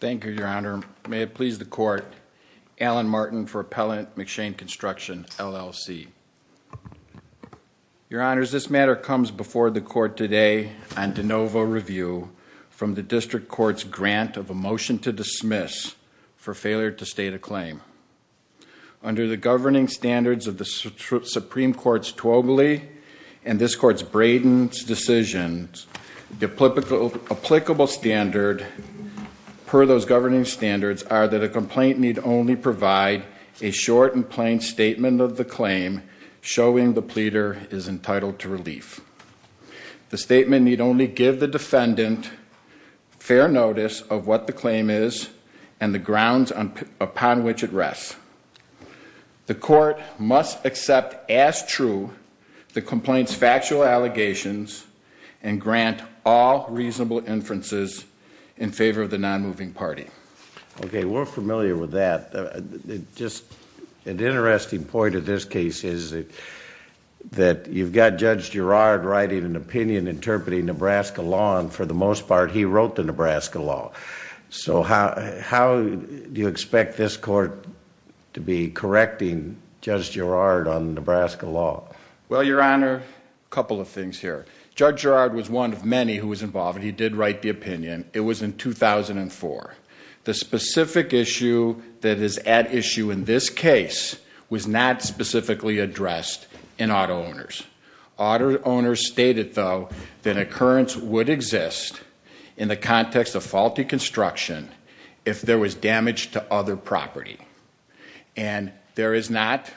Thank you, Your Honor. May it please the Court, Alan Martin for Appellant McShane Construction, LLC. Your Honors, this matter comes before the Court today on de novo review from the District Court's grant of a motion to dismiss for failure to state a claim. Under the governing standards of the Supreme Court's Twobly and this Court's Braden's decisions, the applicable standard per those governing standards are that a complaint need only provide a short and plain statement of the claim showing the pleader is entitled to relief. The statement need only give the defendant fair notice of what the claim is and the grounds upon which it rests. The Court must accept as true the complaint's factual allegations and grant all reasonable inferences in favor of the nonmoving party. Okay, we're familiar with that. Just an interesting point of this case is that you've got Judge Girard writing an opinion interpreting Nebraska law, and for the most part, he wrote the Nebraska law. So how do you expect this Court to be correcting Judge Girard on Nebraska law? Well, Your Honor, a couple of things here. Judge Girard was one of many who was involved, and he did write the opinion. It was in 2004. The specific issue that is at issue in this case was not specifically addressed in auto owners. Auto owners stated, though, that occurrence would exist in the context of faulty construction if there was damage to other property. And there is not,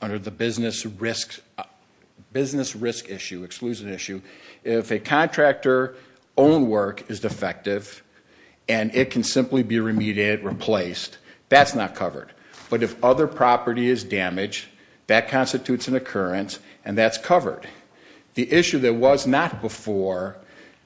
under the business risk issue, exclusion issue, if a contractor's own work is defective and it can simply be remediated, replaced, that's not covered. But if other property is damaged, that constitutes an occurrence, and that's covered. The issue that was not before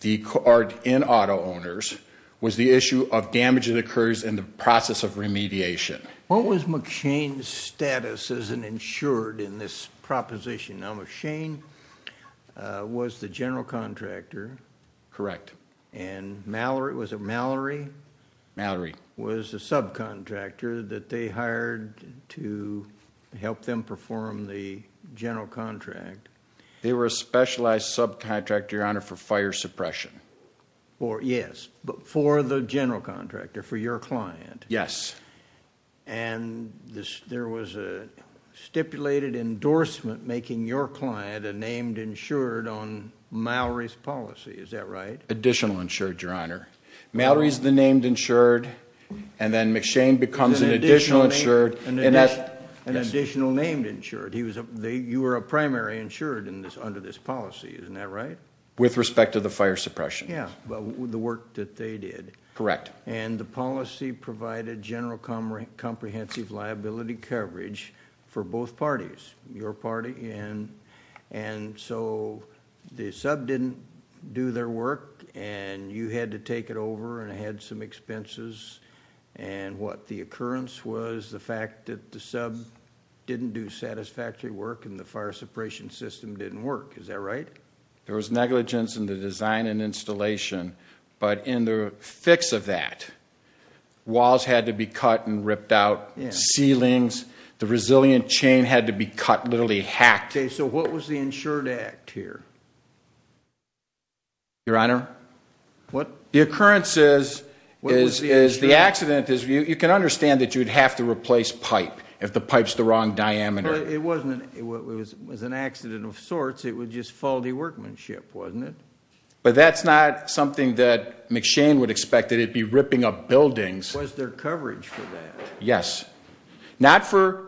in auto owners was the issue of damage that occurs in the process of remediation. What was McShane's status as an insured in this proposition? Now, McShane was the general contractor. Correct. Mallory. Mallory was the subcontractor that they hired to help them perform the general contract. They were a specialized subcontractor, Your Honor, for fire suppression. Yes, but for the general contractor, for your client. Yes. And there was a stipulated endorsement making your client a named insured on Mallory's policy, is that right? Additional insured, Your Honor. Mallory's the named insured, and then McShane becomes an additional insured. An additional named insured. You were a primary insured under this policy, isn't that right? With respect to the fire suppression. Yeah, the work that they did. Correct. And the policy provided general comprehensive liability coverage for both parties, your party. And so the sub didn't do their work, and you had to take it over, and it had some expenses. And what the occurrence was, the fact that the sub didn't do satisfactory work and the fire suppression system didn't work, is that right? There was negligence in the design and installation, but in the fix of that, walls had to be cut and ripped out, ceilings. The resilient chain had to be cut, literally hacked. Okay, so what was the insured act here? Your Honor? What? The occurrence is, the accident is, you can understand that you'd have to replace pipe if the pipe's the wrong diameter. But it wasn't, it was an accident of sorts, it was just faulty workmanship, wasn't it? But that's not something that McShane would expect, that it'd be ripping up buildings. Was there coverage for that? Yes. Not for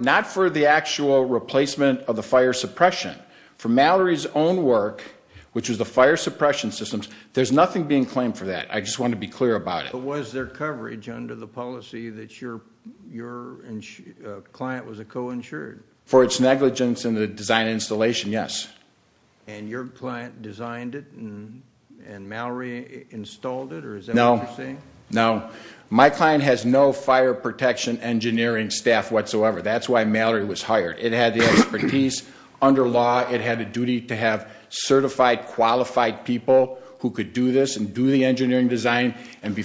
the actual replacement of the fire suppression. For Mallory's own work, which was the fire suppression systems, there's nothing being claimed for that. I just want to be clear about it. But was there coverage under the policy that your client was a co-insured? For its negligence in the design and installation, yes. And your client designed it, and Mallory installed it, or is that what you're saying? No. Now, my client has no fire protection engineering staff whatsoever. That's why Mallory was hired. It had the expertise. Under law, it had a duty to have certified, qualified people who could do this and do the engineering design. And,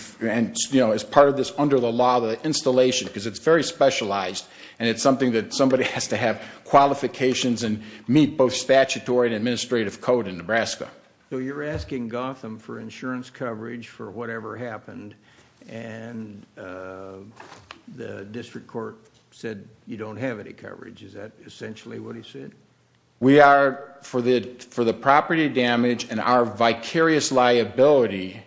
you know, as part of this, under the law, the installation, because it's very specialized, and it's something that somebody has to have qualifications and meet both statutory and administrative code in Nebraska. So you're asking Gotham for insurance coverage for whatever happened, and the district court said you don't have any coverage. Is that essentially what he said? We are for the property damage and our vicarious liability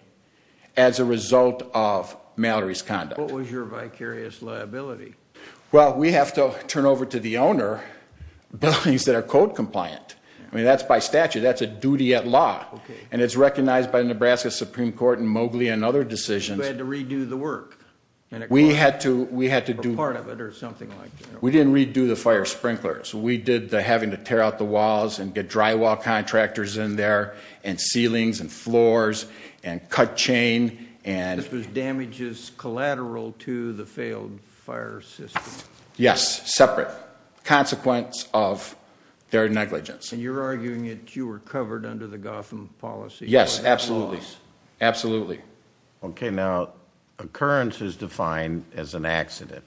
as a result of Mallory's conduct. What was your vicarious liability? Well, we have to turn over to the owner buildings that are code compliant. I mean, that's by statute. That's a duty at law, and it's recognized by the Nebraska Supreme Court and Mowgli and other decisions. You had to redo the work? We had to do part of it or something like that. We didn't redo the fire sprinklers. We did the having to tear out the walls and get drywall contractors in there and ceilings and floors and cut chain. This was damages collateral to the failed fire system? Yes, separate. Consequence of their negligence. And you're arguing that you were covered under the Gotham policy? Yes, absolutely. Absolutely. Okay, now occurrence is defined as an accident,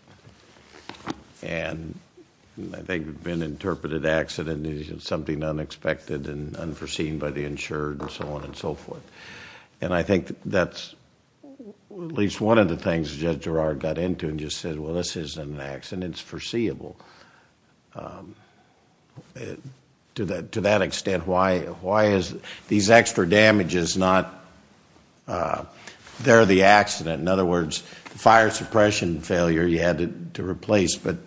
and I think it's been interpreted accident is something unexpected and unforeseen by the insured and so on and so forth. And I think that's at least one of the things Judge Girard got into and just said, well, this isn't an accident. It's foreseeable. To that extent, why is these extra damages not, they're the accident? In other words, the fire suppression failure you had to replace, but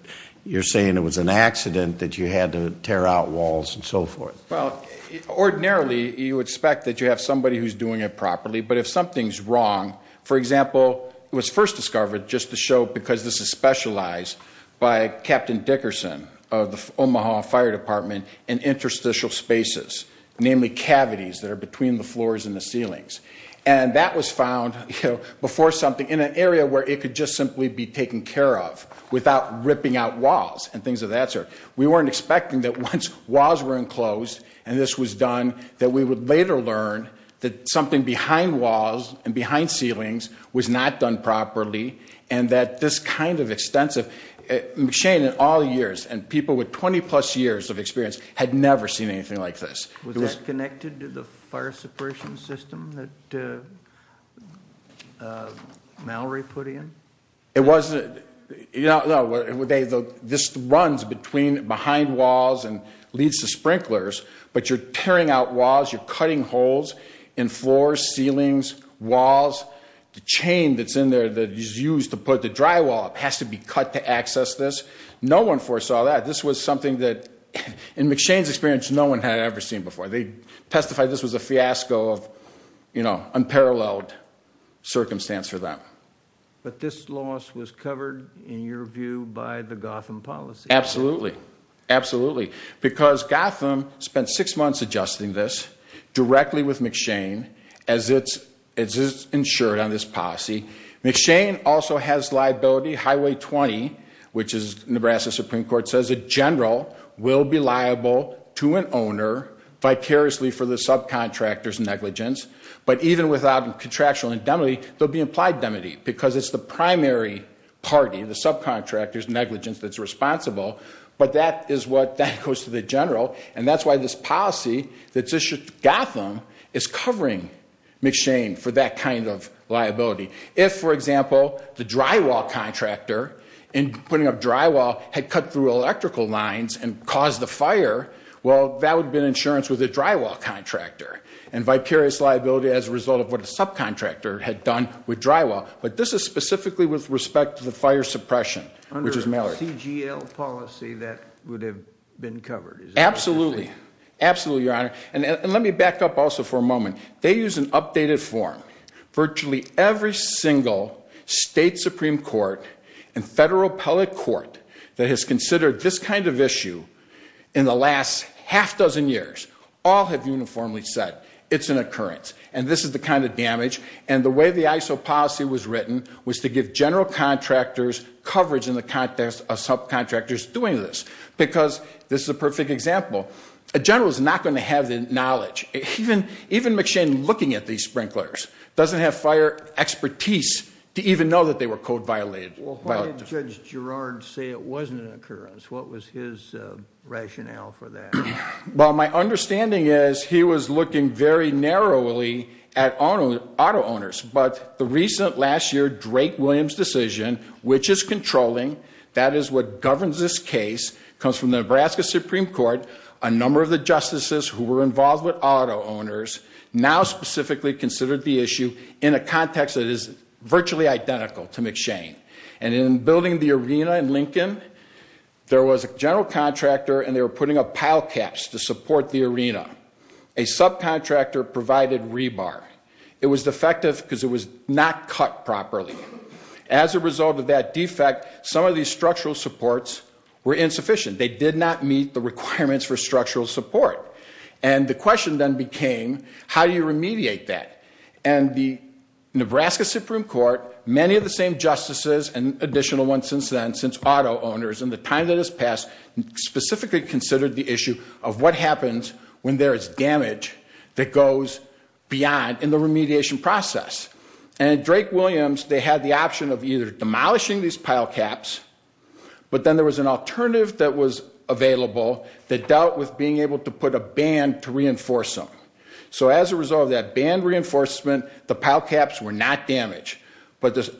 you're saying it was an accident that you had to tear out walls and so forth. Well, ordinarily you would expect that you have somebody who's doing it properly, but if something's wrong, for example, it was first discovered just to show because this is specialized by Captain Dickerson of the Omaha Fire Department in interstitial spaces, namely cavities that are between the floors and the ceilings. And that was found before something in an area where it could just simply be taken care of without ripping out walls and things of that sort. We weren't expecting that once walls were enclosed and this was done, that we would later learn that something behind walls and behind ceilings was not done properly and that this kind of extensive machine in all years and people with 20 plus years of experience had never seen anything like this. Was that connected to the fire suppression system that Mallory put in? No, this runs behind walls and leads to sprinklers, but you're tearing out walls, you're cutting holes in floors, ceilings, walls. The chain that's in there that is used to put the drywall up has to be cut to access this. No one foresaw that. This was something that in McShane's experience no one had ever seen before. They testified this was a fiasco of unparalleled circumstance for them. But this loss was covered, in your view, by the Gotham policy? Absolutely. Absolutely. Because Gotham spent six months adjusting this directly with McShane as it's insured on this policy. McShane also has liability, Highway 20, which the Nebraska Supreme Court says a general will be liable to an owner vicariously for the subcontractor's negligence, but even without contractual indemnity, there'll be implied indemnity because it's the primary party, the subcontractor's negligence, that's responsible. But that is what goes to the general, and that's why this policy that's issued to Gotham is covering McShane for that kind of liability. If, for example, the drywall contractor in putting up drywall had cut through electrical lines and caused a fire, well, that would have been insurance with a drywall contractor, and vicarious liability as a result of what a subcontractor had done with drywall. But this is specifically with respect to the fire suppression, which is Mallory. Under a CGL policy, that would have been covered, is that what you're saying? Absolutely. Absolutely, Your Honor. And let me back up also for a moment. They use an updated form. Virtually every single state Supreme Court and federal appellate court that has considered this kind of issue in the last half-dozen years all have uniformly said it's an occurrence, and this is the kind of damage. And the way the ISO policy was written was to give general contractors coverage in the context of subcontractors doing this, because this is a perfect example. A general is not going to have the knowledge. Even McShane looking at these sprinklers doesn't have fire expertise to even know that they were code violated. Well, why did Judge Gerard say it wasn't an occurrence? What was his rationale for that? Well, my understanding is he was looking very narrowly at auto owners. But the recent last year Drake-Williams decision, which is controlling, that is what governs this case, comes from the Nebraska Supreme Court. A number of the justices who were involved with auto owners now specifically consider the issue in a context that is virtually identical to McShane. And in building the arena in Lincoln, there was a general contractor and they were putting up pile caps to support the arena. A subcontractor provided rebar. It was defective because it was not cut properly. As a result of that defect, some of these structural supports were insufficient. They did not meet the requirements for structural support. And the question then became, how do you remediate that? And the Nebraska Supreme Court, many of the same justices and additional ones since then, since auto owners, in the time that has passed, specifically considered the issue of what happens when there is damage that goes beyond in the remediation process. And at Drake-Williams, they had the option of either demolishing these pile caps, but then there was an alternative that was available that dealt with being able to put a band to reinforce them. So as a result of that band reinforcement, the pile caps were not damaged. But the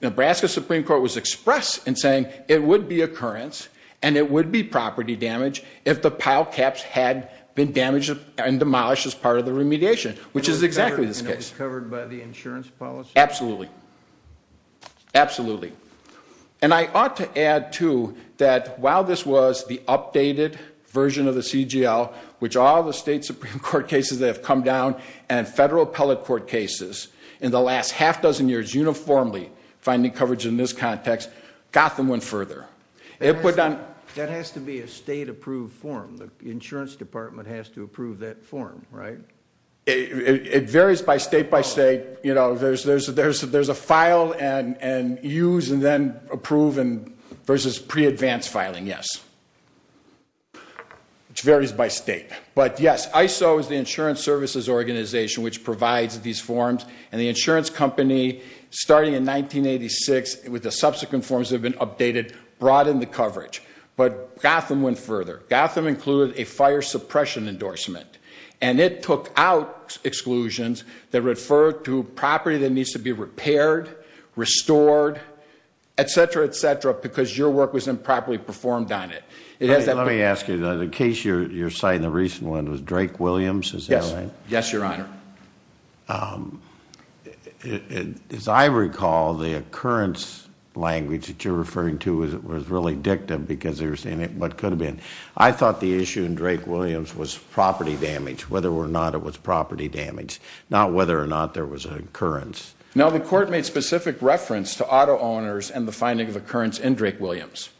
Nebraska Supreme Court was expressed in saying it would be occurrence and it would be property damage if the pile caps had been damaged and demolished as part of the remediation, which is exactly this case. And it was covered by the insurance policy? Absolutely. Absolutely. And I ought to add, too, that while this was the updated version of the CGL, which all the state Supreme Court cases that have come down and federal appellate court cases in the last half dozen years uniformly finding coverage in this context, Gotham went further. That has to be a state approved form. The insurance department has to approve that form, right? It varies by state by state. You know, there's a file and use and then approve versus pre-advanced filing, yes. It varies by state. But yes, ISO is the insurance services organization which provides these forms. And the insurance company, starting in 1986 with the subsequent forms that have been updated, brought in the coverage. But Gotham went further. Gotham included a fire suppression endorsement. And it took out exclusions that refer to property that needs to be repaired, restored, et cetera, et cetera, because your work was improperly performed on it. Let me ask you, the case you're citing, the recent one, was Drake-Williams, is that right? Yes, Your Honor. As I recall, the occurrence language that you're referring to was really dictative because they were saying what could have been. I thought the issue in Drake-Williams was property damage, whether or not it was property damage, not whether or not there was an occurrence. No, the court made specific reference to auto owners and the finding of occurrence in Drake-Williams.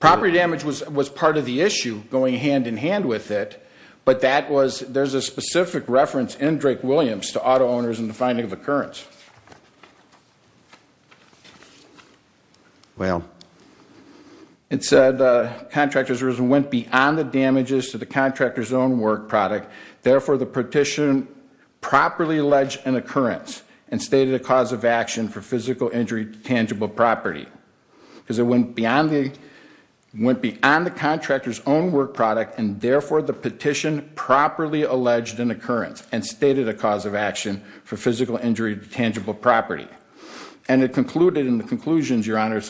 Property damage was part of the issue going hand-in-hand with it, but there's a specific reference in Drake-Williams to auto owners and the finding of occurrence. Well. It said contractors went beyond the damages to the contractor's own work product, therefore the petition properly alleged an occurrence and stated a cause of action for physical injury to tangible property. Because it went beyond the contractor's own work product, and therefore the petition properly alleged an occurrence and stated a cause of action for physical injury to tangible property. And it concluded in the conclusions, Your Honor,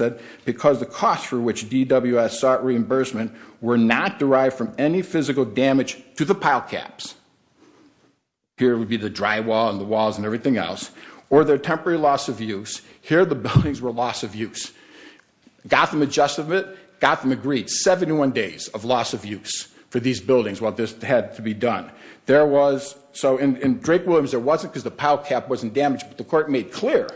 because the cost for which DWS sought reimbursement were not derived from any physical damage to the pile caps. Here would be the drywall and the walls and everything else. Or their temporary loss of use. Here the buildings were loss of use. Gotham adjusted it. Gotham agreed 71 days of loss of use for these buildings while this had to be done. There was, so in Drake-Williams there wasn't because the pile cap wasn't damaged, but the court made clear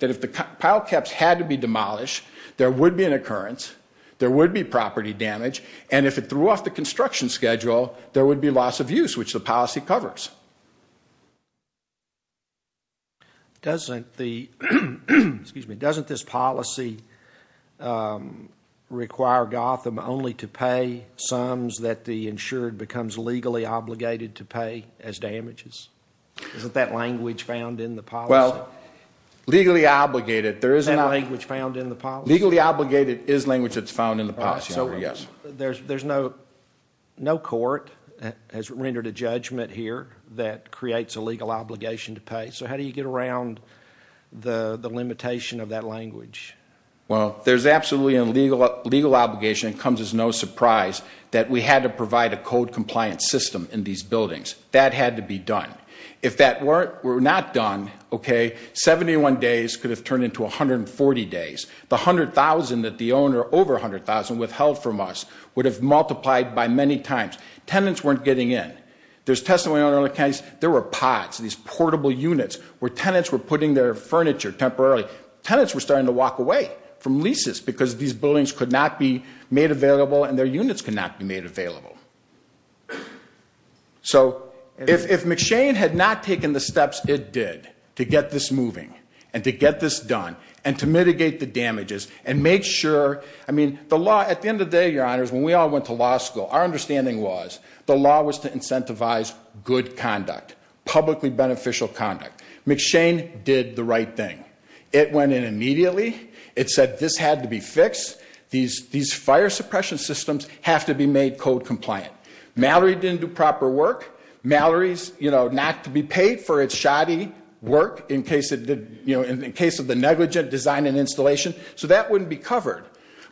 that if the pile caps had to be demolished, there would be an occurrence, there would be property damage, and if it threw off the construction schedule, there would be loss of use, which the policy covers. Doesn't this policy require Gotham only to pay sums that the insured becomes legally obligated to pay as damages? Isn't that language found in the policy? Well, legally obligated, there is not. Isn't that language found in the policy? Legally obligated is language that's found in the policy, Your Honor, yes. There's no court that has rendered a judgment here that creates a legal obligation to pay. So how do you get around the limitation of that language? Well, there's absolutely a legal obligation. It comes as no surprise that we had to provide a code-compliant system in these buildings. That had to be done. If that were not done, okay, 71 days could have turned into 140 days. The 100,000 that the owner, over 100,000, withheld from us would have multiplied by many times. Tenants weren't getting in. There's testimony in other counties, there were pods, these portable units, where tenants were putting their furniture temporarily. Tenants were starting to walk away from leases because these buildings could not be made available and their units could not be made available. So if McShane had not taken the steps it did to get this moving and to get this done and to mitigate the damages and make sure, I mean, the law, at the end of the day, Your Honors, when we all went to law school, our understanding was the law was to incentivize good conduct, publicly beneficial conduct. McShane did the right thing. It went in immediately. It said this had to be fixed. These fire suppression systems have to be made code compliant. Mallory didn't do proper work. Mallory's not to be paid for its shoddy work in case of the negligent design and installation, so that wouldn't be covered.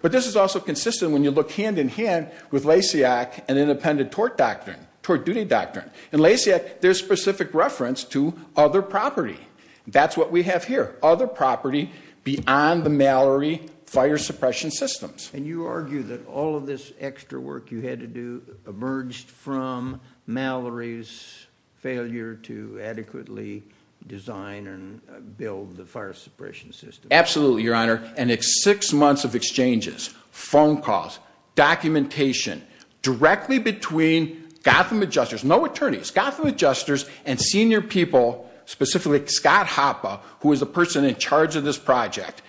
But this is also consistent when you look hand in hand with Lasiak and independent tort doctrine, tort duty doctrine. In Lasiak, there's specific reference to other property. That's what we have here. Other property beyond the Mallory fire suppression systems. And you argue that all of this extra work you had to do emerged from Mallory's failure to adequately design and build the fire suppression system. Absolutely, Your Honor, and it's six months of exchanges, phone calls, documentation, directly between Gotham Adjusters, no attorneys, Gotham Adjusters and senior people, specifically Scott Hoppe, who was the person in charge of this project.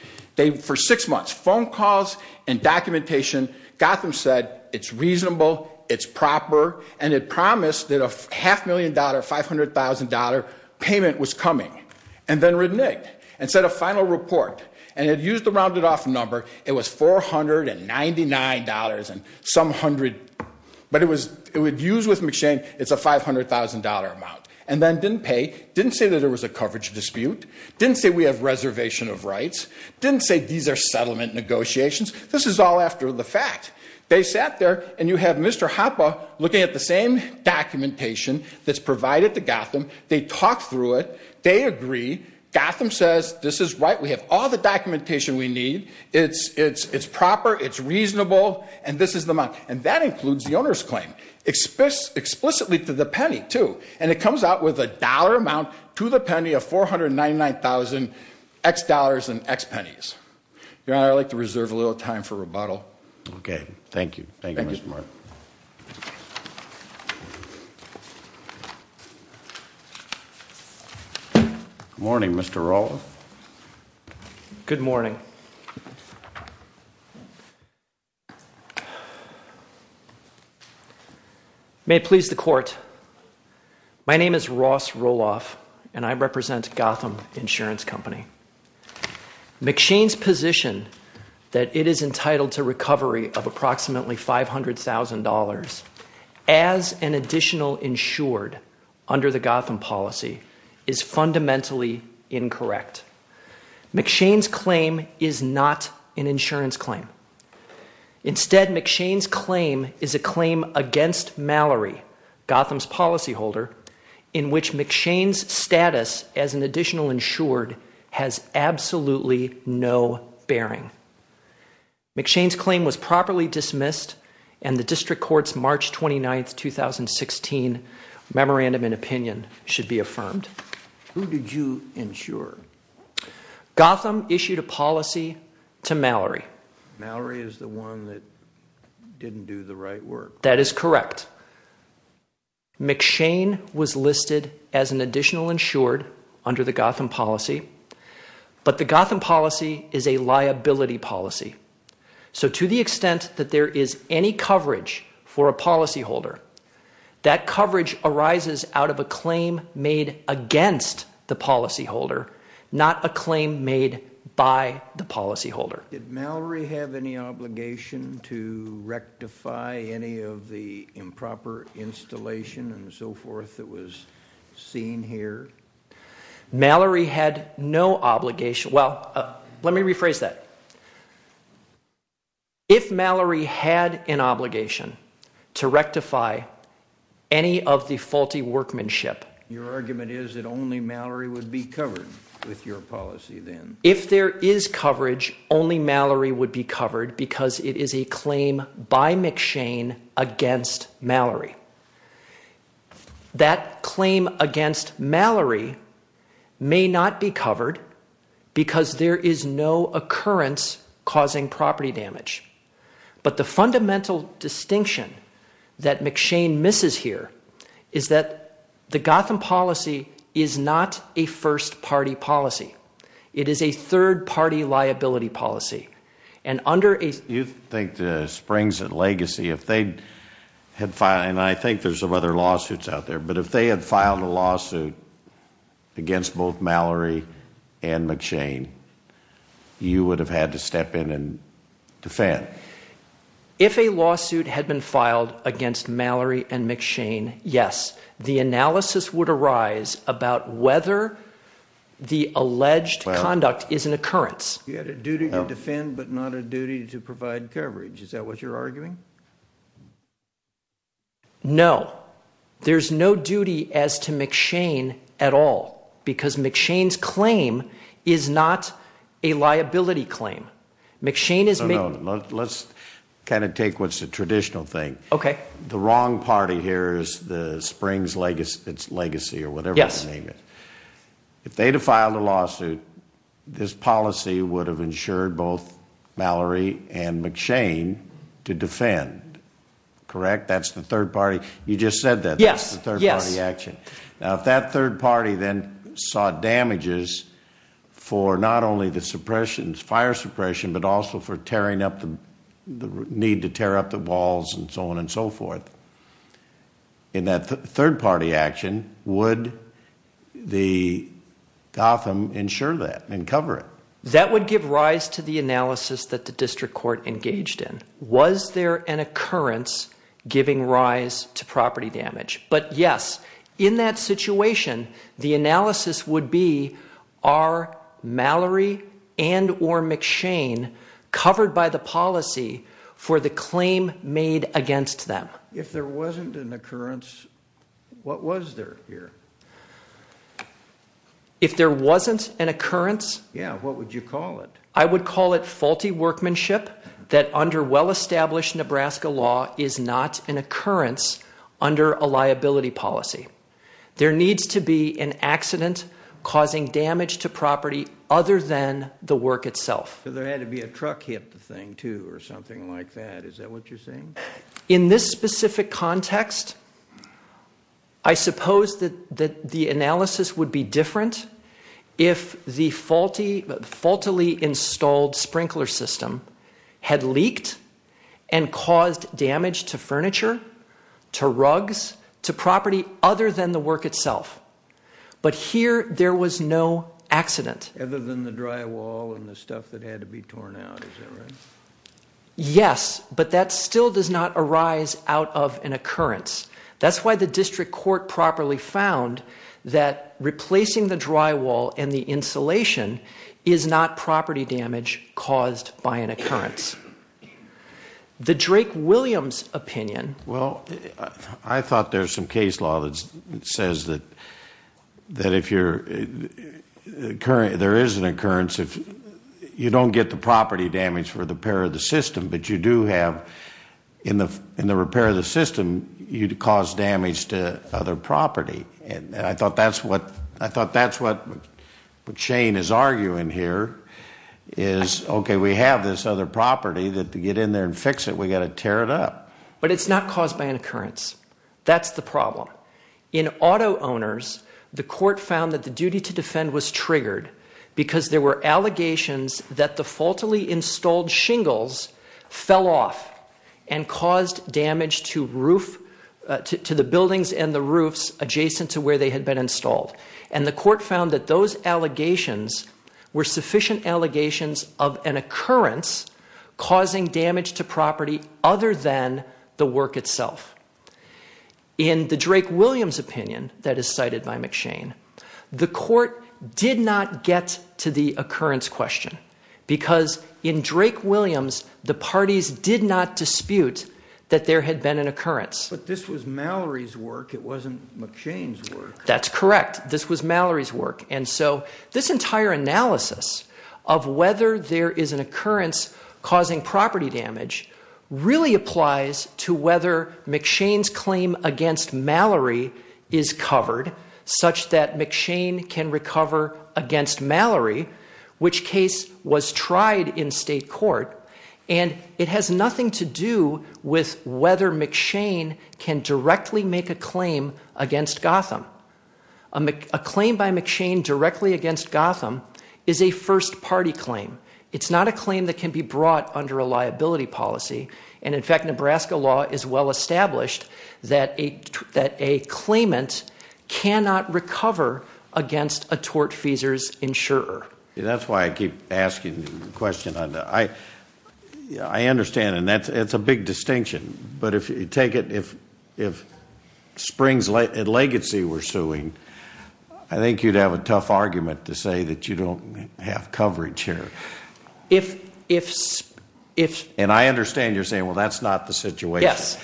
For six months, phone calls and documentation, Gotham said it's reasonable, it's proper, and it promised that a half million dollar, $500,000 payment was coming, and then reneged and said a final report. And it used the rounded off number. It was $499 and some hundred, but it was used with McShane, it's a $500,000 amount. And then didn't pay, didn't say that there was a coverage dispute, didn't say we have reservation of rights, didn't say these are settlement negotiations. This is all after the fact. They sat there and you have Mr. Hoppe looking at the same documentation that's provided to Gotham, they talked through it, they agree, Gotham says this is right, we have all the documentation we need, it's proper, it's reasonable, and this is the amount. And that includes the owner's claim. Explicitly to the penny, too. And it comes out with a dollar amount to the penny of $499,000 X dollars and X pennies. Your Honor, I'd like to reserve a little time for rebuttal. Okay. Thank you. Thank you, Mr. Martin. Good morning, Mr. Roloff. Good morning. May it please the court, my name is Ross Roloff and I represent Gotham Insurance Company. McShane's position that it is entitled to recovery of approximately $500,000 as an additional insured under the Gotham policy is fundamentally incorrect. McShane's claim is not an insurance claim. Instead, McShane's claim is a claim against Mallory, Gotham's policyholder, in which McShane's status as an additional insured has absolutely no bearing. McShane's claim was properly dismissed and the district court's March 29, 2016 memorandum in opinion should be affirmed. Who did you insure? Gotham issued a policy to Mallory. Mallory is the one that didn't do the right work. That is correct. McShane was listed as an additional insured under the Gotham policy, but the Gotham policy is a liability policy. So to the extent that there is any coverage for a policyholder, that coverage arises out of a claim made against the policyholder, not a claim made by the policyholder. Did Mallory have any obligation to rectify any of the improper installation and so forth that was seen here? Mallory had no obligation. Well, let me rephrase that. If Mallory had an obligation to rectify any of the faulty workmanship... Your argument is that only Mallory would be covered with your policy then. If there is coverage, only Mallory would be covered because it is a claim by McShane against Mallory. That claim against Mallory may not be covered because there is no occurrence causing property damage. But the fundamental distinction that McShane misses here is that the Gotham policy is not a first-party policy. It is a third-party liability policy. You think that Springs and Legacy, and I think there are some other lawsuits out there, but if they had filed a lawsuit against both Mallory and McShane, you would have had to step in and defend. If a lawsuit had been filed against Mallory and McShane, yes. The analysis would arise about whether the alleged conduct is an occurrence. You had a duty to defend but not a duty to provide coverage. Is that what you're arguing? No. There's no duty as to McShane at all because McShane's claim is not a liability claim. McShane is... Let's kind of take what's the traditional thing. Okay. The wrong party here is the Springs-Legacy or whatever the name is. If they had filed a lawsuit, this policy would have ensured both Mallory and McShane to defend, correct? That's the third party. You just said that. That's the third-party action. Now, if that third party then saw damages for not only the suppression, fire suppression, but also for tearing up the need to tear up the walls and so on and so forth, in that third-party action, would the Gotham ensure that and cover it? That would give rise to the analysis that the district court engaged in. Was there an occurrence giving rise to property damage? But yes, in that situation, the analysis would be, are Mallory and or McShane covered by the policy for the claim made against them? If there wasn't an occurrence, what was there here? If there wasn't an occurrence... Yeah, what would you call it? I would call it faulty workmanship that under well-established Nebraska law is not an occurrence under a liability policy. There needs to be an accident causing damage to property other than the work itself. There had to be a truck hit the thing too or something like that. Is that what you're saying? In this specific context, I suppose that the analysis would be different if the faultily installed sprinkler system had leaked and caused damage to furniture, to rugs, to property other than the work itself. But here, there was no accident. Other than the drywall and the stuff that had to be torn out. Is that right? Yes, but that still does not arise out of an occurrence. That's why the district court properly found that replacing the drywall and the insulation is not property damage caused by an occurrence. The Drake-Williams opinion... Well, I thought there was some case law that says that if there is an occurrence, you don't get the property damage for the repair of the system, but you do have, in the repair of the system, you'd cause damage to other property. And I thought that's what Shane is arguing here. Is, okay, we have this other property that to get in there and fix it, we've got to tear it up. But it's not caused by an occurrence. That's the problem. In auto owners, the court found that the duty to defend was triggered because there were allegations that the faultily installed shingles fell off and caused damage to the buildings and the roofs adjacent to where they had been installed. And the court found that those allegations were sufficient allegations of an occurrence causing damage to property other than the work itself. In the Drake-Williams opinion that is cited by McShane, the court did not get to the occurrence question because in Drake-Williams, the parties did not dispute that there had been an occurrence. But this was Mallory's work. It wasn't McShane's work. That's correct. This was Mallory's work. And so this entire analysis of whether there is an occurrence causing property damage really applies to whether McShane's claim against Mallory is covered such that McShane can recover against Mallory, which case was tried in state court. And it has nothing to do with whether McShane can directly make a claim against Gotham. A claim by McShane directly against Gotham is a first-party claim. It's not a claim that can be brought under a liability policy. And in fact, Nebraska law is well established that a claimant cannot recover against a tortfeasor's insurer. That's why I keep asking the question. I understand, and that's a big distinction. But if you take it, if Springs and Legacy were suing, I think you'd have a tough argument to say that you don't have coverage here. And I understand you're saying, well, that's not the situation. Yes.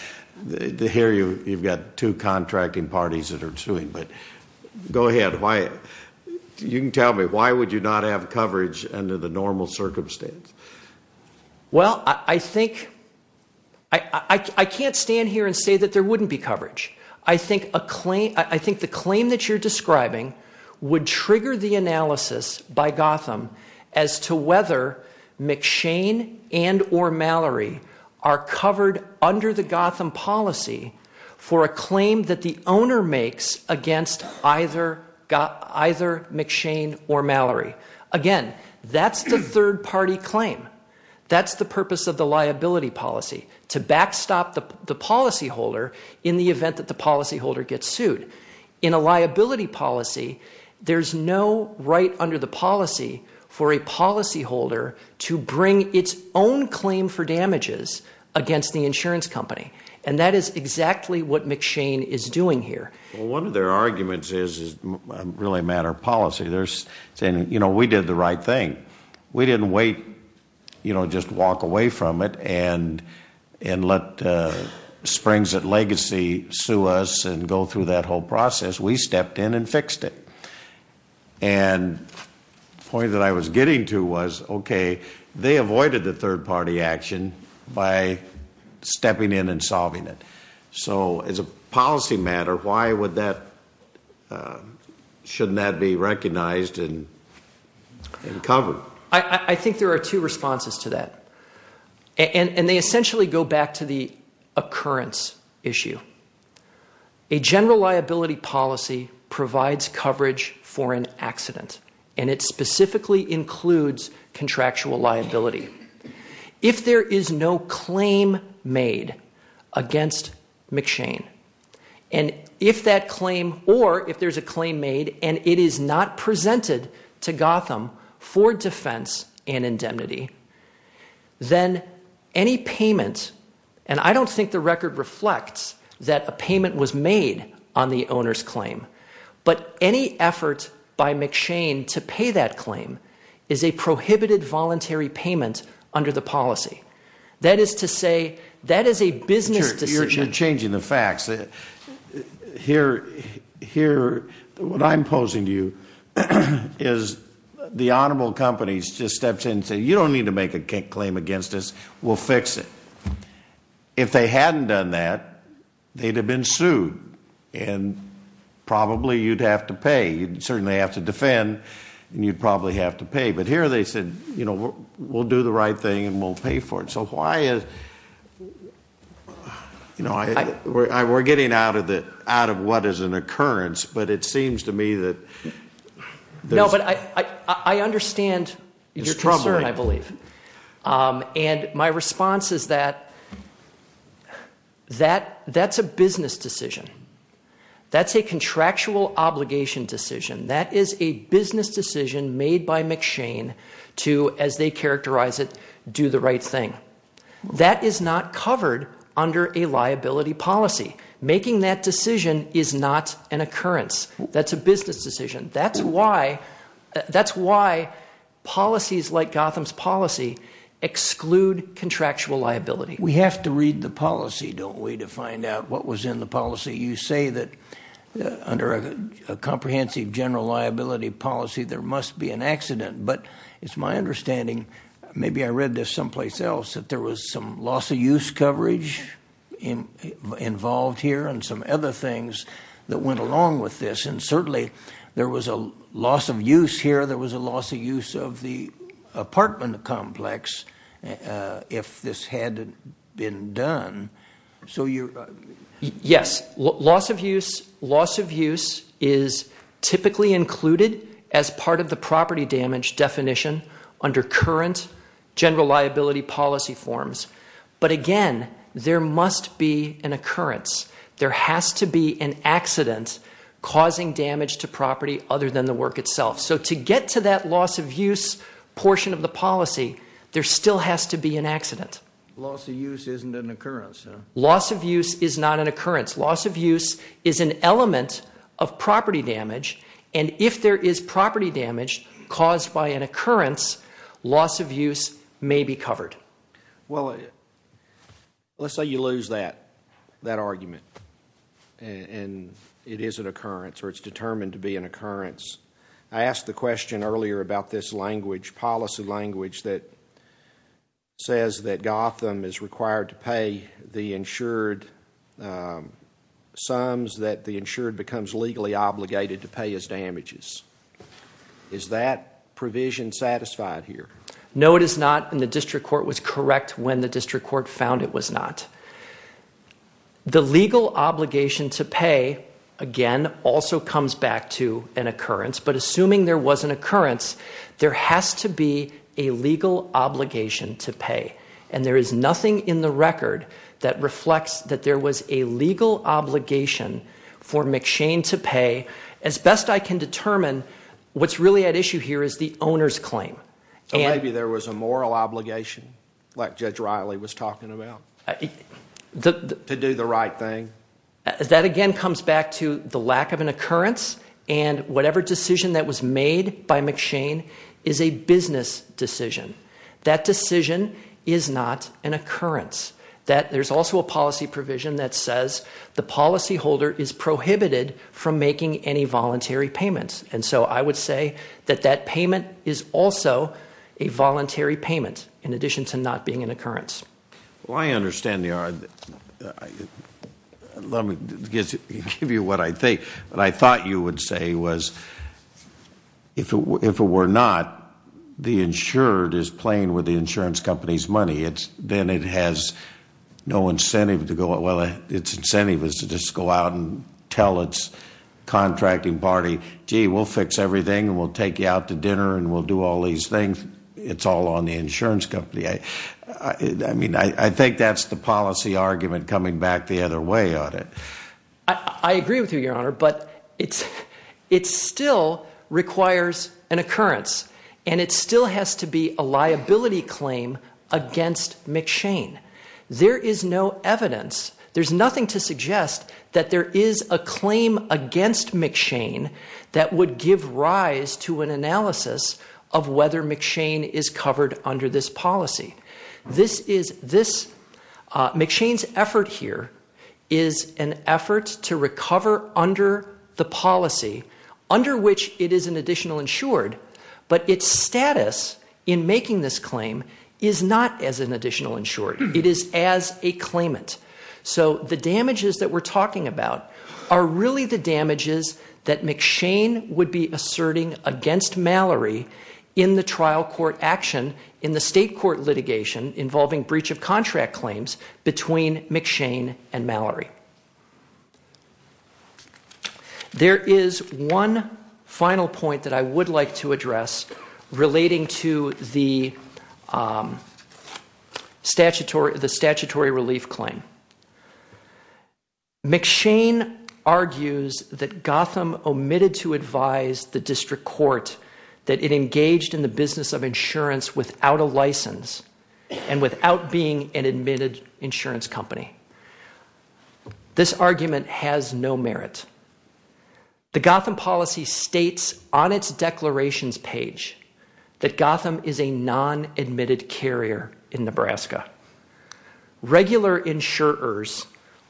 Here you've got two contracting parties that are suing, but go ahead. You can tell me, why would you not have coverage under the normal circumstance? Well, I think, I can't stand here and say that there wouldn't be coverage. I think the claim that you're describing would trigger the analysis by Gotham as to whether McShane and or Mallory are covered under the Gotham policy for a claim that the owner makes against either McShane or Mallory. Again, that's the third-party claim. That's the purpose of the liability policy, to backstop the policyholder in the event that the policyholder gets sued. In a liability policy, there's no right under the policy for a policyholder to bring its own claim for damages against the insurance company. And that is exactly what McShane is doing here. Well, one of their arguments is really a matter of policy. They're saying, you know, we did the right thing. We didn't wait, you know, just walk away from it and let Springs at Legacy sue us and go through that whole process. We stepped in and fixed it. And the point that I was getting to was, okay, they avoided the third-party action by stepping in and solving it. So as a policy matter, why would that, shouldn't that be recognized and covered? I think there are two responses to that. And they essentially go back to the occurrence issue. A general liability policy provides coverage for an accident, and it specifically includes contractual liability. If there is no claim made against McShane, and if that claim, or if there's a claim made and it is not presented to Gotham for defense and indemnity, then any payment, and I don't think the record reflects that a payment was made on the owner's claim, but any effort by McShane to pay that claim is a prohibited voluntary payment under the policy. That is to say, that is a business decision. You're changing the facts. Here, what I'm posing to you is the honorable companies just stepped in and said, you don't need to make a claim against us, we'll fix it. If they hadn't done that, they'd have been sued, and probably you'd have to pay. You'd certainly have to defend, and you'd probably have to pay. But here they said, you know, we'll do the right thing and we'll pay for it. So why is, you know, we're getting out of what is an occurrence, but it seems to me that there's trouble. No, but I understand your concern, I believe. And my response is that that's a business decision. That's a contractual obligation decision. That is a business decision made by McShane to, as they characterize it, do the right thing. That is not covered under a liability policy. Making that decision is not an occurrence. That's a business decision. That's why policies like Gotham's policy exclude contractual liability. We have to read the policy, don't we, to find out what was in the policy. You say that under a comprehensive general liability policy there must be an accident. But it's my understanding, maybe I read this someplace else, that there was some loss of use coverage involved here and some other things that went along with this. And certainly there was a loss of use here. There was a loss of use of the apartment complex if this had been done. Yes, loss of use is typically included as part of the property damage definition under current general liability policy forms. But again, there must be an occurrence. There has to be an accident causing damage to property other than the work itself. So to get to that loss of use portion of the policy, there still has to be an accident. Loss of use isn't an occurrence, huh? Loss of use is not an occurrence. Loss of use is an element of property damage. And if there is property damage caused by an occurrence, loss of use may be covered. Well, let's say you lose that argument and it is an occurrence or it's determined to be an occurrence. I asked the question earlier about this language, policy language, that says that Gotham is required to pay the insured sums that the insured becomes legally obligated to pay as damages. Is that provision satisfied here? No, it is not, and the district court was correct when the district court found it was not. The legal obligation to pay, again, also comes back to an occurrence. But assuming there was an occurrence, there has to be a legal obligation to pay. And there is nothing in the record that reflects that there was a legal obligation for McShane to pay. As best I can determine, what's really at issue here is the owner's claim. Maybe there was a moral obligation, like Judge Riley was talking about, to do the right thing. That again comes back to the lack of an occurrence, and whatever decision that was made by McShane is a business decision. That decision is not an occurrence. There's also a policy provision that says the policyholder is prohibited from making any voluntary payments. And so I would say that that payment is also a voluntary payment in addition to not being an occurrence. Well, I understand the argument. Let me give you what I think. What I thought you would say was if it were not, the insured is playing with the insurance company's money. Then it has no incentive to go out. Well, its incentive is to just go out and tell its contracting party, gee, we'll fix everything and we'll take you out to dinner and we'll do all these things. It's all on the insurance company. I mean, I think that's the policy argument coming back the other way on it. I agree with you, Your Honor. But it still requires an occurrence, and it still has to be a liability claim against McShane. There is no evidence. There's nothing to suggest that there is a claim against McShane that would give rise to an analysis of whether McShane is covered under this policy. McShane's effort here is an effort to recover under the policy under which it is an additional insured. But its status in making this claim is not as an additional insured. It is as a claimant. So the damages that we're talking about are really the damages that McShane would be asserting against Mallory in the trial court action in the state court litigation involving breach of contract claims between McShane and Mallory. There is one final point that I would like to address relating to the statutory relief claim. McShane argues that Gotham omitted to advise the district court that it engaged in the business of insurance without a license and without being an admitted insurance company. This argument has no merit. The Gotham policy states on its declarations page that Gotham is a non-admitted carrier in Nebraska. Regular insurers,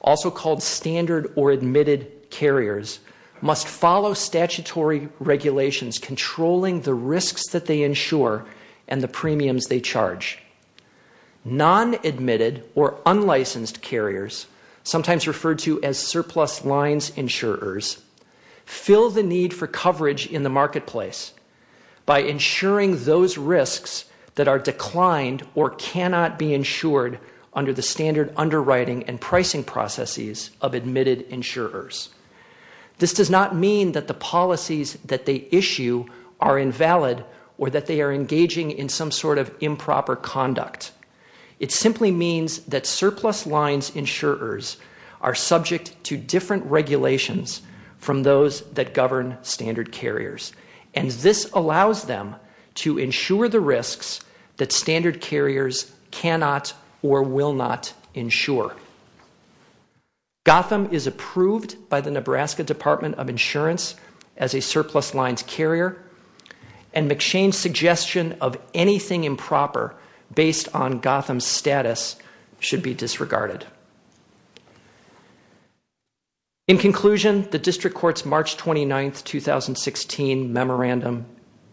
also called standard or admitted carriers, must follow statutory regulations controlling the risks that they insure and the premiums they charge. Non-admitted or unlicensed carriers, sometimes referred to as surplus lines insurers, fill the need for coverage in the marketplace by insuring those risks that are declined or cannot be insured under the standard underwriting and pricing processes of admitted insurers. This does not mean that the policies that they issue are invalid or that they are engaging in some sort of improper conduct. It simply means that surplus lines insurers are subject to different regulations from those that govern standard carriers, and this allows them to insure the risks that standard carriers cannot or will not insure. Gotham is approved by the Nebraska Department of Insurance as a surplus lines carrier, and McShane's suggestion of anything improper based on Gotham's status should be disregarded. In conclusion, the District Court's March 29, 2016 memorandum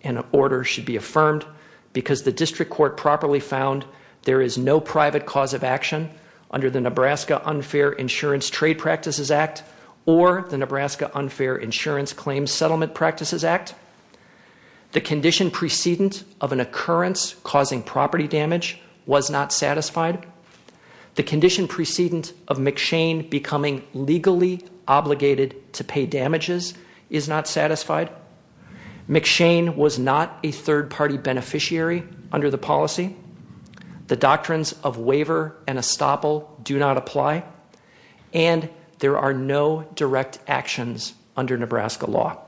and order should be affirmed because the District Court properly found there is no private cause of action under the Nebraska Unfair Insurance Trade Practices Act or the Nebraska Unfair Insurance Claims Settlement Practices Act. The condition precedent of an occurrence causing property damage was not satisfied. The condition precedent of McShane becoming legally obligated to pay damages is not satisfied. McShane was not a third-party beneficiary under the policy. The doctrines of waiver and estoppel do not apply, and there are no direct actions under Nebraska law.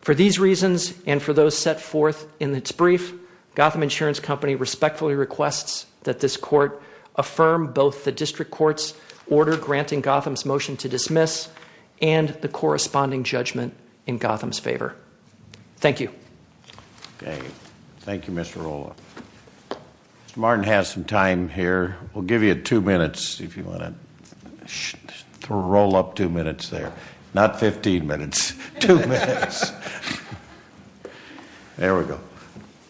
For these reasons and for those set forth in its brief, Gotham Insurance Company respectfully requests that this Court affirm both the District Court's order granting Gotham's motion to dismiss and the corresponding judgment in Gotham's favor. Thank you. Thank you, Mr. Rolla. Mr. Martin has some time here. We'll give you two minutes if you want to roll up two minutes there. Not 15 minutes. Two minutes. There we go.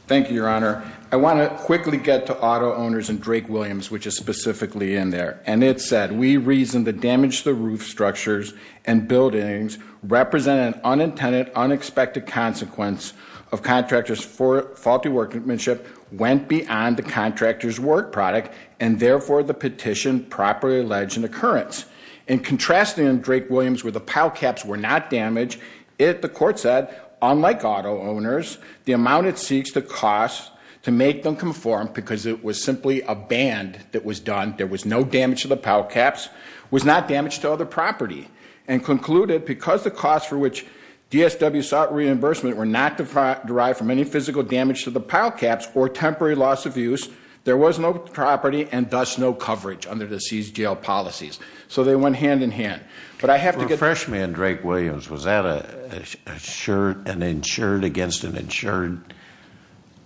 Thank you, Your Honor. I want to quickly get to auto owners and Drake Williams, which is specifically in there. And it said, we reasoned that damage to the roof structures and buildings represented an unintended, unexpected consequence of contractors' faulty workmanship went beyond the contractor's work product and, therefore, the petition properly alleged an occurrence. In contrasting Drake Williams where the pile caps were not damaged, the Court said, unlike auto owners, the amount it seeks to cost to make them conform because it was simply a band that was done, there was no damage to the pile caps, was not damaged to other property. And concluded, because the cost for which DSW sought reimbursement were not derived from any physical damage to the pile caps or temporary loss of use, there was no property and, thus, no coverage under the seized jail policies. So they went hand in hand. For a freshman, Drake Williams, was that an insured against an insured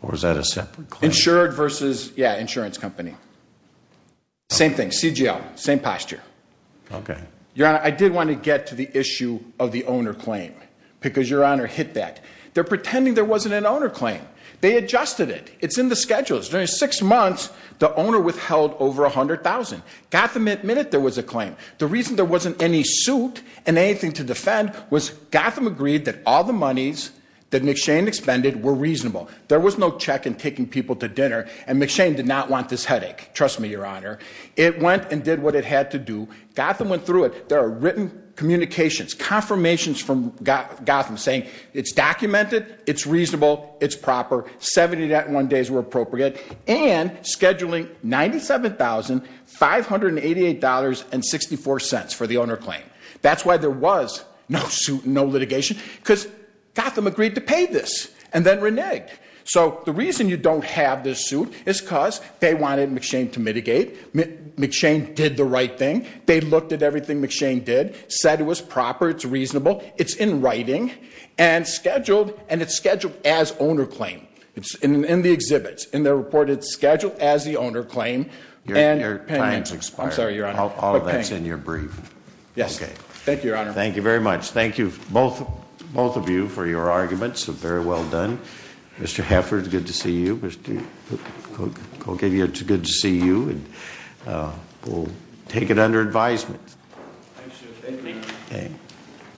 or was that a separate claim? Insured versus, yeah, insurance company. Same thing. CGL. Same posture. Okay. Your Honor, I did want to get to the issue of the owner claim because, Your Honor, hit that. They're pretending there wasn't an owner claim. They adjusted it. It's in the schedules. During six months, the owner withheld over $100,000. Gotham admitted there was a claim. The reason there wasn't any suit and anything to defend was Gotham agreed that all the monies that McShane expended were reasonable. There was no check in taking people to dinner and McShane did not want this headache. Trust me, Your Honor. It went and did what it had to do. Gotham went through it. There are written communications, confirmations from Gotham saying it's documented, it's reasonable, it's proper, 70.1 days were appropriate, and scheduling $97,588.64 for the owner claim. That's why there was no suit and no litigation because Gotham agreed to pay this and then reneged. So the reason you don't have this suit is because they wanted McShane to mitigate. McShane did the right thing. They looked at everything McShane did, said it was proper, it's reasonable, it's in writing, and scheduled, and it's scheduled as owner claim. It's in the exhibits. In the report, it's scheduled as the owner claim. Your time's expired. I'm sorry, Your Honor. All of that's in your brief. Yes. Thank you, Your Honor. Thank you very much. Thank you, both of you, for your arguments. Very well done. Mr. Hefford, good to see you. Mr. Kogedia, it's good to see you. We'll take it under advisement. Thank you, sir. Thank you. Thank you.